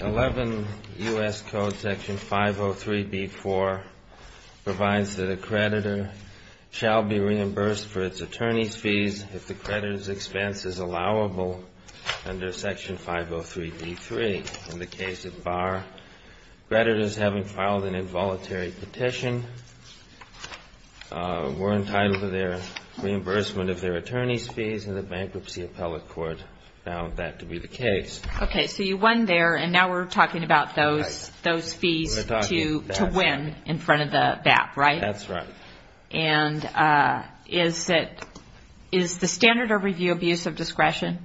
11 U.S. Code Section 503B.4 provides that a creditor shall be reimbursed for its attorney's fees if the creditor's expense is allowable under Section 503B.3. In the case of Barr, creditors having filed an involuntary petition were entitled to their reimbursement of their attorney's fees, and the Bankruptcy Appellate Court found that to be the case. Okay, so you won there, and now we're talking about those fees to win in front of the VAP, right? That's right. And is the standard of review abuse of discretion?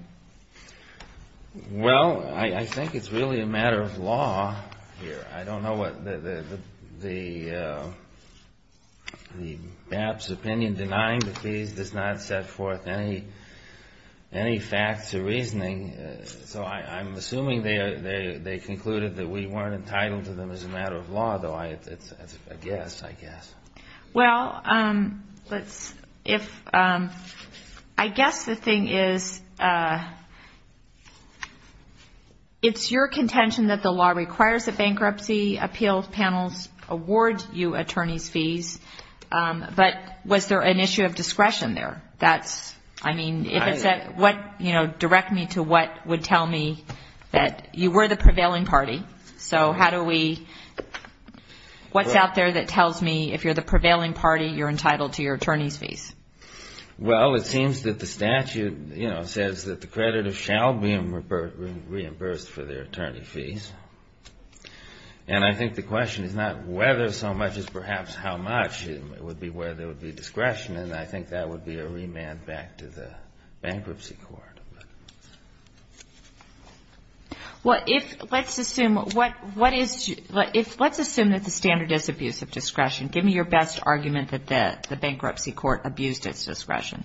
Well, I think it's really a matter of law here. I don't know what the VAP's opinion denying the fees does not set forth any facts or reasoning, so I'm assuming they concluded that we weren't entitled to them as a matter of law, though that's a guess, I guess. Well, I guess the thing is, it's your contention that the law requires that bankruptcy appeals panels award you attorney's fees, but was there an issue of discretion there? Well, it seems that the statute, you know, says that the creditor shall be reimbursed for their attorney fees, and I think the question is not whether so much as perhaps how much, it would be whether there would be discretion, and I think that would be a reasonable question. Well, let's assume that the standard is abuse of discretion. Give me your best argument that the bankruptcy court abused its discretion,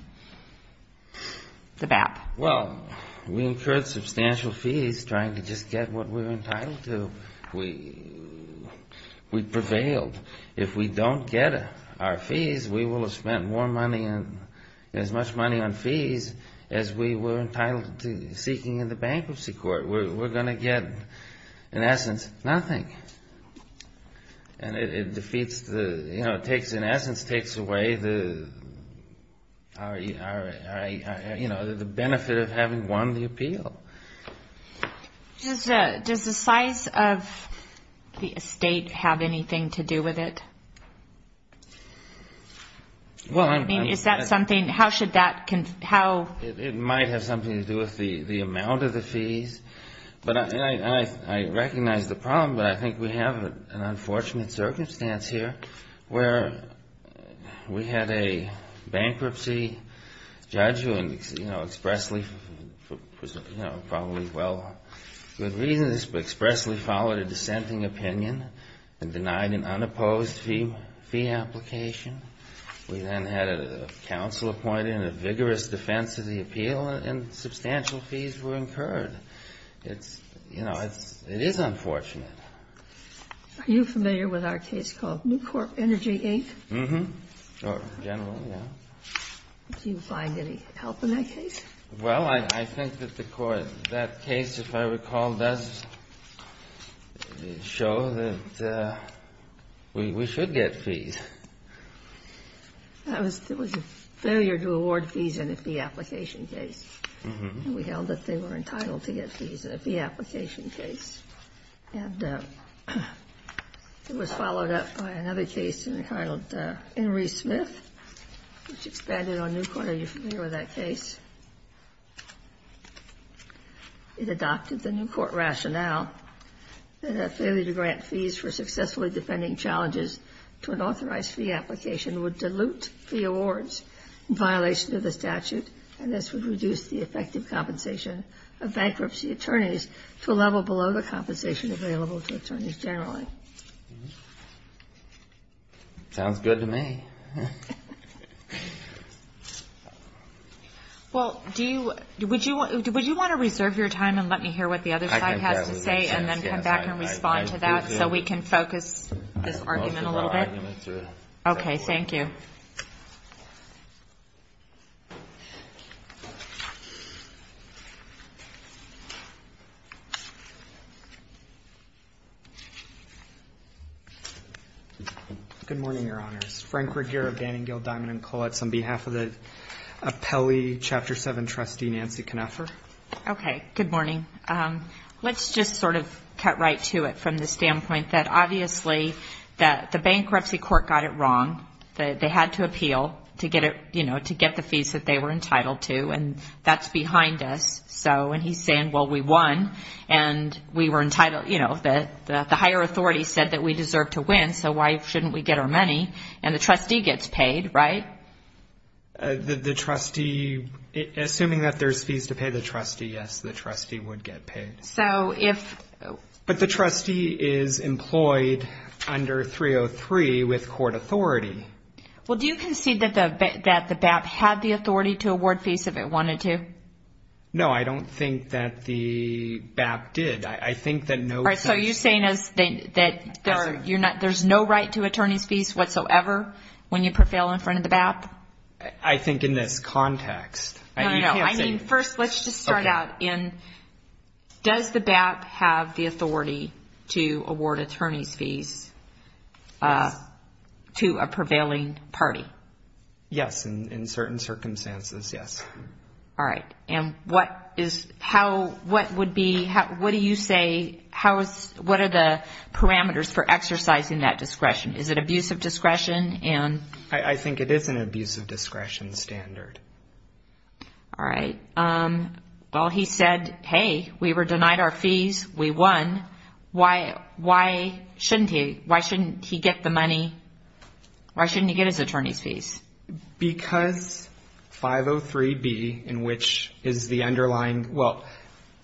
the VAP. Well, we incurred substantial fees trying to just get what we were entitled to. We prevailed. If we don't get our fees, we will have spent more money and as much money on fees as we were entitled to seeking in the bankruptcy court. We're going to get, in essence, nothing. And it defeats the, you know, it takes, in essence, takes away the, you know, the benefit of having won the appeal. Does the size of the estate have anything to do with it? Well, I mean, is that something, how should that, how... It might have something to do with the amount of the fees, but I recognize the problem, but I think we have an unfortunate circumstance here where we had a bankruptcy judge who, you know, expressly, you know, probably, well, good reasons, but expressly followed a dissenting opinion and denied an unopposed fee application. We then had a counsel appointed in a vigorous defense of the appeal and substantial fees were incurred. It's, you know, it's, it is unfortunate. Are you familiar with our case called New Corp Energy 8? Mm-hmm. Or generally, yeah. Do you find any help in that case? Well, I think that the court, that case, if I recall, does show that we should get fees. That was a failure to award fees in a fee application case. Mm-hmm. And we held that they were entitled to get fees in a fee application case. And it was followed up by another case entitled Henry Smith, which expanded on New Corp. Are you familiar with that case? It adopted the New Corp rationale that a failure to grant fees for successfully defending challenges to an authorized fee application would dilute the awards in violation of the statute, and this would reduce the effective compensation of bankruptcy attorneys to a level below the compensation available to attorneys generally. Sounds good to me. Well, do you, would you, would you want to reserve your time and let me hear what the other side has to say and then come back and respond to that so we can focus this argument a little bit? Okay. Thank you. Thank you. Good morning, Your Honors. Frank Ruggiero, Banning, Gill, Diamond, and Kollatz, on behalf of the Apelli Chapter 7 trustee, Nancy Knafer. Okay. Good morning. Let's just sort of cut right to it from the standpoint that obviously the bankruptcy court got it wrong. They had to appeal to get it, you know, to get the fees that they were entitled to, and that's behind us. So, and he's saying, well, we won, and we were entitled, you know, the higher authority said that we deserve to win, so why shouldn't we get our money? And the trustee gets paid, right? The trustee, assuming that there's fees to pay the trustee, yes, the trustee would get paid. So if. But the trustee is employed under 303 with court authority. Well, do you concede that the BAP had the authority to award fees if it wanted to? No, I don't think that the BAP did. All right, so are you saying that there's no right to attorney's fees whatsoever when you prevail in front of the BAP? I think in this context. No, no, no. I mean, first, let's just start out in, does the BAP have the authority to award attorney's fees to a prevailing party? Yes, in certain circumstances, yes. All right, and what is, how, what would be, what do you say, what are the parameters for exercising that discretion? Is it abusive discretion? I think it is an abusive discretion standard. All right, well, he said, hey, we were denied our fees, we won, why shouldn't he, why shouldn't he get the money, why shouldn't he get his attorney's fees? Because 503B, in which is the underlying, well,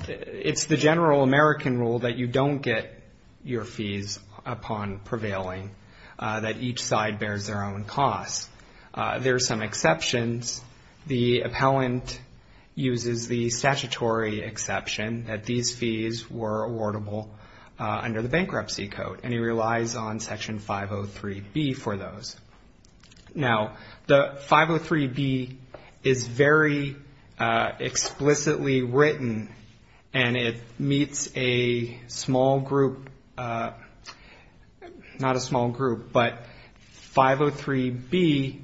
it's the general American rule that you don't get your fees upon prevailing, that each side bears their own cost. There are some exceptions. The appellant uses the statutory exception that these fees were awardable under the bankruptcy code, and he relies on Section 503B for those. Now, the 503B is very explicitly written, and it meets a small group, not a small group, but 503B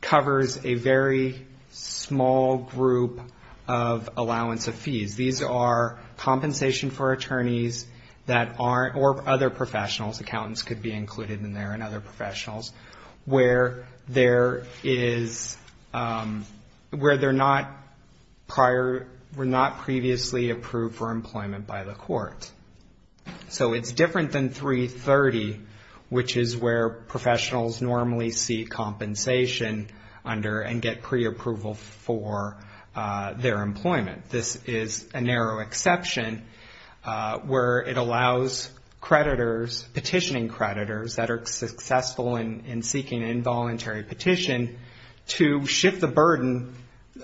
covers a very small group of allowance of fees. These are compensation for attorneys that aren't, or other professionals, accountants could be included in there and other professionals, where there is, where they're not prior, were not previously approved for employment by the court. So it's different than 330, which is where professionals normally see compensation under and get preapproval for their employment. This is a narrow exception where it allows creditors, petitioning creditors, that are successful in seeking an involuntary petition to shift the burden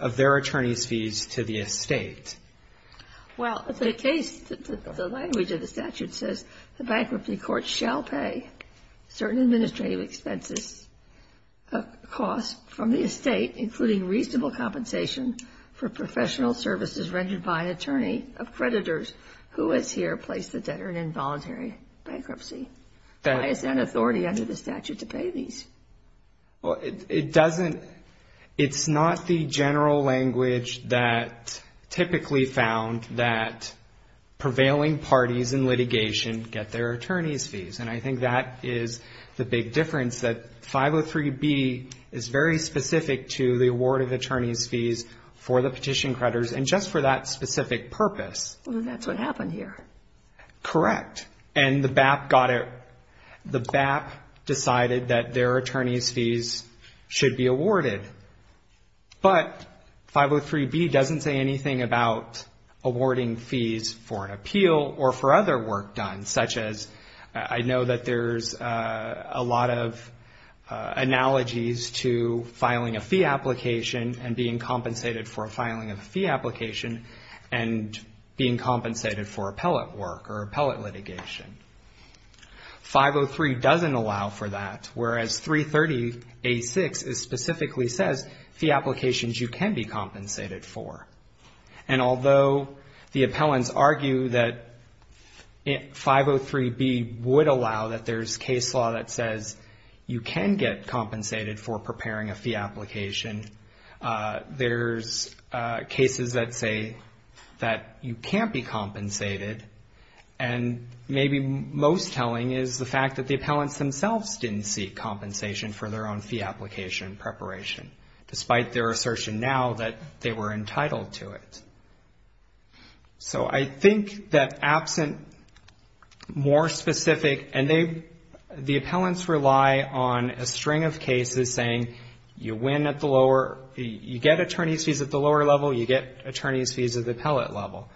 of their attorney's fees to the estate. Well, the case, the language of the statute says the bankruptcy court shall pay certain administrative expenses, costs from the estate, including reasonable compensation for professional services rendered by an attorney of creditors who has here placed the debtor in involuntary bankruptcy. Why is that an authority under the statute to pay these? Well, it doesn't, it's not the general language that typically found that prevailing parties in litigation get their attorney's fees, and I think that is the big difference, that 503B is very specific to the award of attorney's fees for the petition creditors, and just for that specific purpose. That's what happened here. Correct. And the BAP got it, the BAP decided that their attorney's fees should be awarded. But 503B doesn't say anything about awarding fees for an appeal or for other work done, such as I know that there's a lot of analogies to filing a fee application and being compensated for filing a fee application and being compensated for appellate work or appellate litigation. 503 doesn't allow for that, whereas 330A6 specifically says fee applications you can be compensated for. And although the appellants argue that 503B would allow that there's case law that says you can get compensated for preparing a fee application, there's cases that say that you can't be compensated, and maybe most telling is the fact that the appellants themselves didn't seek compensation for their own fee application preparation, despite their assertion now that they were entitled to it. So I think that absent more specific, and the appellants rely on a string of cases saying you win at the lower, you get attorney's fees at the lower level, you get attorney's fees at the appellate level.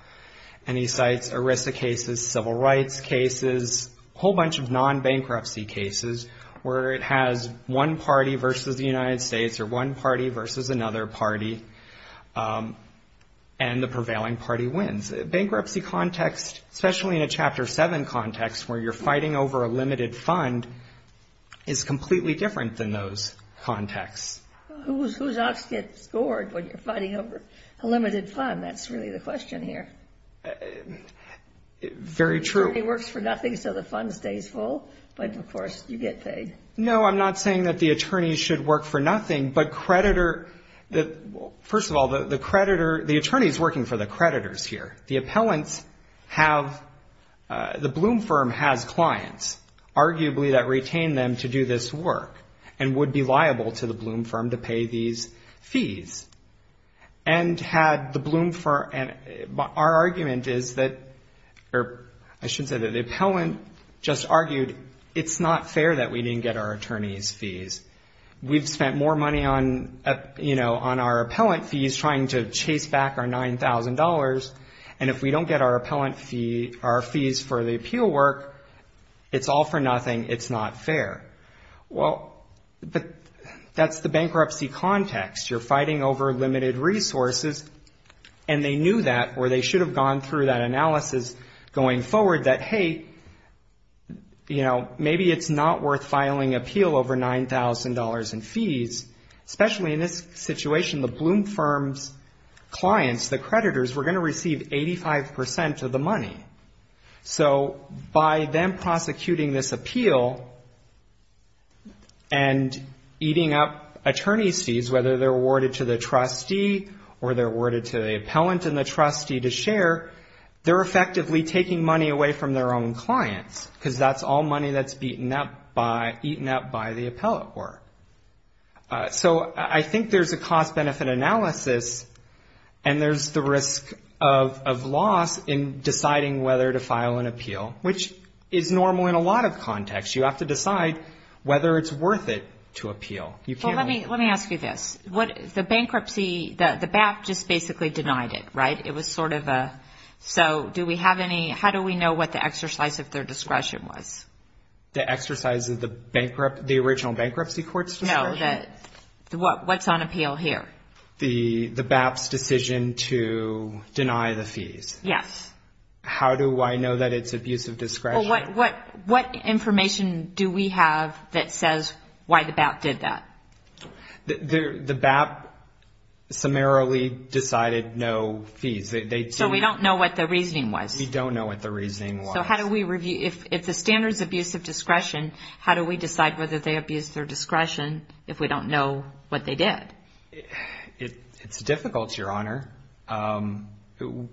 And he cites ERISA cases, civil rights cases, a whole bunch of non-bankruptcy cases where it has one party versus the United States or one party versus another party, and the prevailing party wins. Bankruptcy context, especially in a Chapter 7 context where you're fighting over a limited fund, is completely different than those contexts. Who's offs get scored when you're fighting over a limited fund? That's really the question here. Very true. The attorney works for nothing, so the fund stays full, but, of course, you get paid. No, I'm not saying that the attorney should work for nothing, but creditor, first of all, the creditor, the attorney is working for the creditors here. The appellants have, the Bloom Firm has clients, arguably that retain them to do this work, and would be liable to the Bloom Firm to pay these fees. And had the Bloom Firm, our argument is that, or I shouldn't say that, the appellant just argued it's not fair that we didn't get our attorneys' fees. We've spent more money on, you know, on our appellant fees trying to chase back our $9,000, and if we don't get our appellant fee, our fees for the appeal work, it's all for nothing, it's not fair. Well, that's the bankruptcy context. You're fighting over limited resources, and they knew that, or they should have gone through that analysis going forward that, hey, you know, maybe it's not worth filing appeal over $9,000 in fees, especially in this situation. The Bloom Firm's clients, the creditors, were going to receive 85% of the money. So by them prosecuting this appeal and eating up attorney's fees, whether they're awarded to the trustee or they're awarded to the appellant and the trustee to share, they're effectively taking money away from their own clients, because that's all money that's eaten up by the appellate work. So I think there's a cost-benefit analysis, and there's the risk of loss in deciding whether to file an appeal, which is normal in a lot of contexts. You have to decide whether it's worth it to appeal. Well, let me ask you this. The bankruptcy, the BAP just basically denied it, right? It was sort of a, so do we have any, how do we know what the exercise of their discretion was? The exercise of the original bankruptcy court's discretion? No, what's on appeal here? The BAP's decision to deny the fees? Yes. How do I know that it's abuse of discretion? Well, what information do we have that says why the BAP did that? The BAP summarily decided no fees. So we don't know what the reasoning was? We don't know what the reasoning was. So how do we review, if the standard's abuse of discretion, how do we decide whether they abused their discretion if we don't know what they did? It's difficult, Your Honor.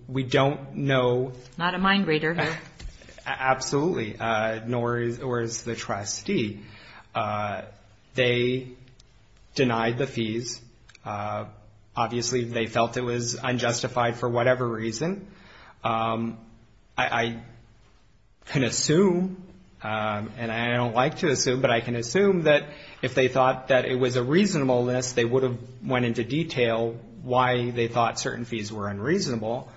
We don't know. Not a mind reader. Absolutely, nor is the trustee. They denied the fees. Obviously, they felt it was unjustified for whatever reason. I can assume, and I don't like to assume, but I can assume that if they thought that it was a reasonable list, they would have went into detail why they thought certain fees were unreasonable.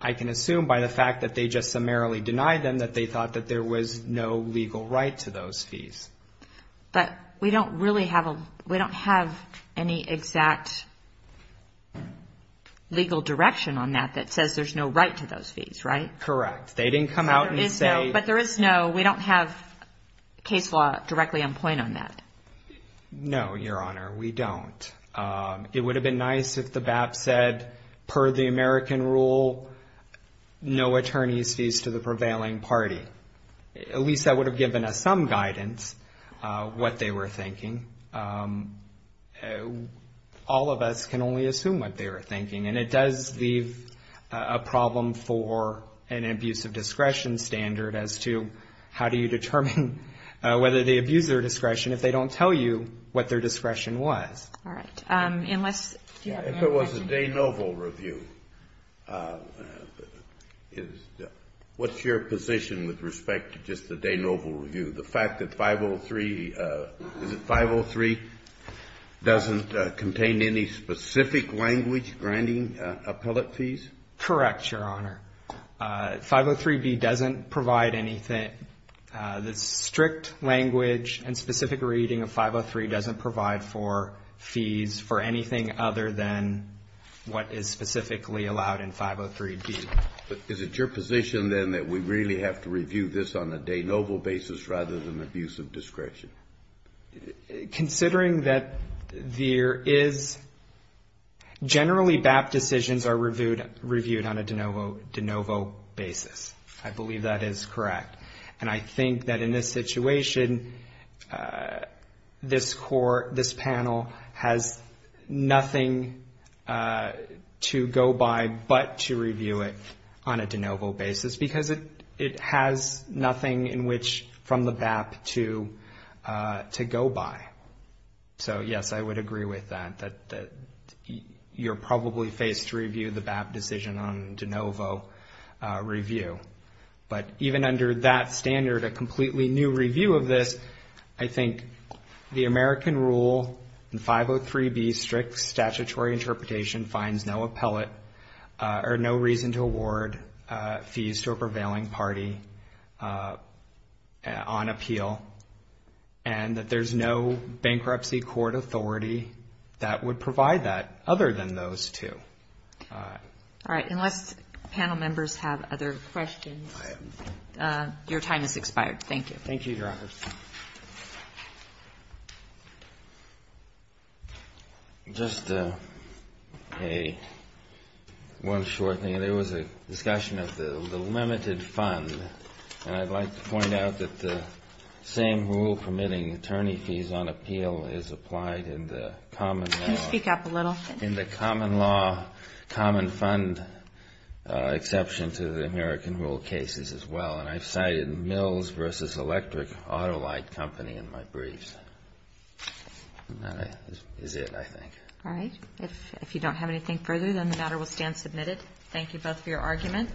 I can assume by the fact that they just summarily denied them that they thought that there was no legal right to those fees. But we don't have any exact legal direction on that that says there's no right to those fees, right? Correct. They didn't come out and say. But there is no, we don't have case law directly on point on that. No, Your Honor, we don't. It would have been nice if the BAP said, per the American rule, no attorney's fees to the prevailing party. At least that would have given us some guidance what they were thinking. All of us can only assume what they were thinking, and it does leave a problem for an abuse of discretion standard as to how do you determine whether they abuse their discretion if they don't tell you what their discretion was. All right. Unless, do you have a question? If there was a de novo review, what's your position with respect to just the de novo review? The fact that 503, is it 503 doesn't contain any specific language granting appellate fees? Correct, Your Honor. 503B doesn't provide anything. The strict language and specific reading of 503 doesn't provide for fees for anything other than what is specifically allowed in 503B. Is it your position, then, that we really have to review this on a de novo basis rather than abuse of discretion? Considering that there is, generally BAP decisions are reviewed on a de novo basis. I believe that is correct. And I think that in this situation, this panel has nothing to go by but to review it on a de novo basis because it has nothing in which from the BAP to go by. So, yes, I would agree with that, that you're probably faced to review the BAP decision on de novo review. But even under that standard, a completely new review of this, I think the American rule in 503B strict statutory interpretation finds no appellate or no reason to award fees to a prevailing party on appeal and that there's no bankruptcy court authority that would provide that other than those two. All right. Unless panel members have other questions, your time has expired. Thank you. Thank you, Your Honor. Just one short thing. There was a discussion of the limited fund. And I'd like to point out that the same rule permitting attorney fees on appeal is applied in the common law. Can you speak up a little? In the common law, common fund exception to the American rule cases as well. And I've cited Mills v. Electric Auto Light Company in my briefs. And that is it, I think. All right. If you don't have anything further, then the matter will stand submitted. Thank you both for your argument.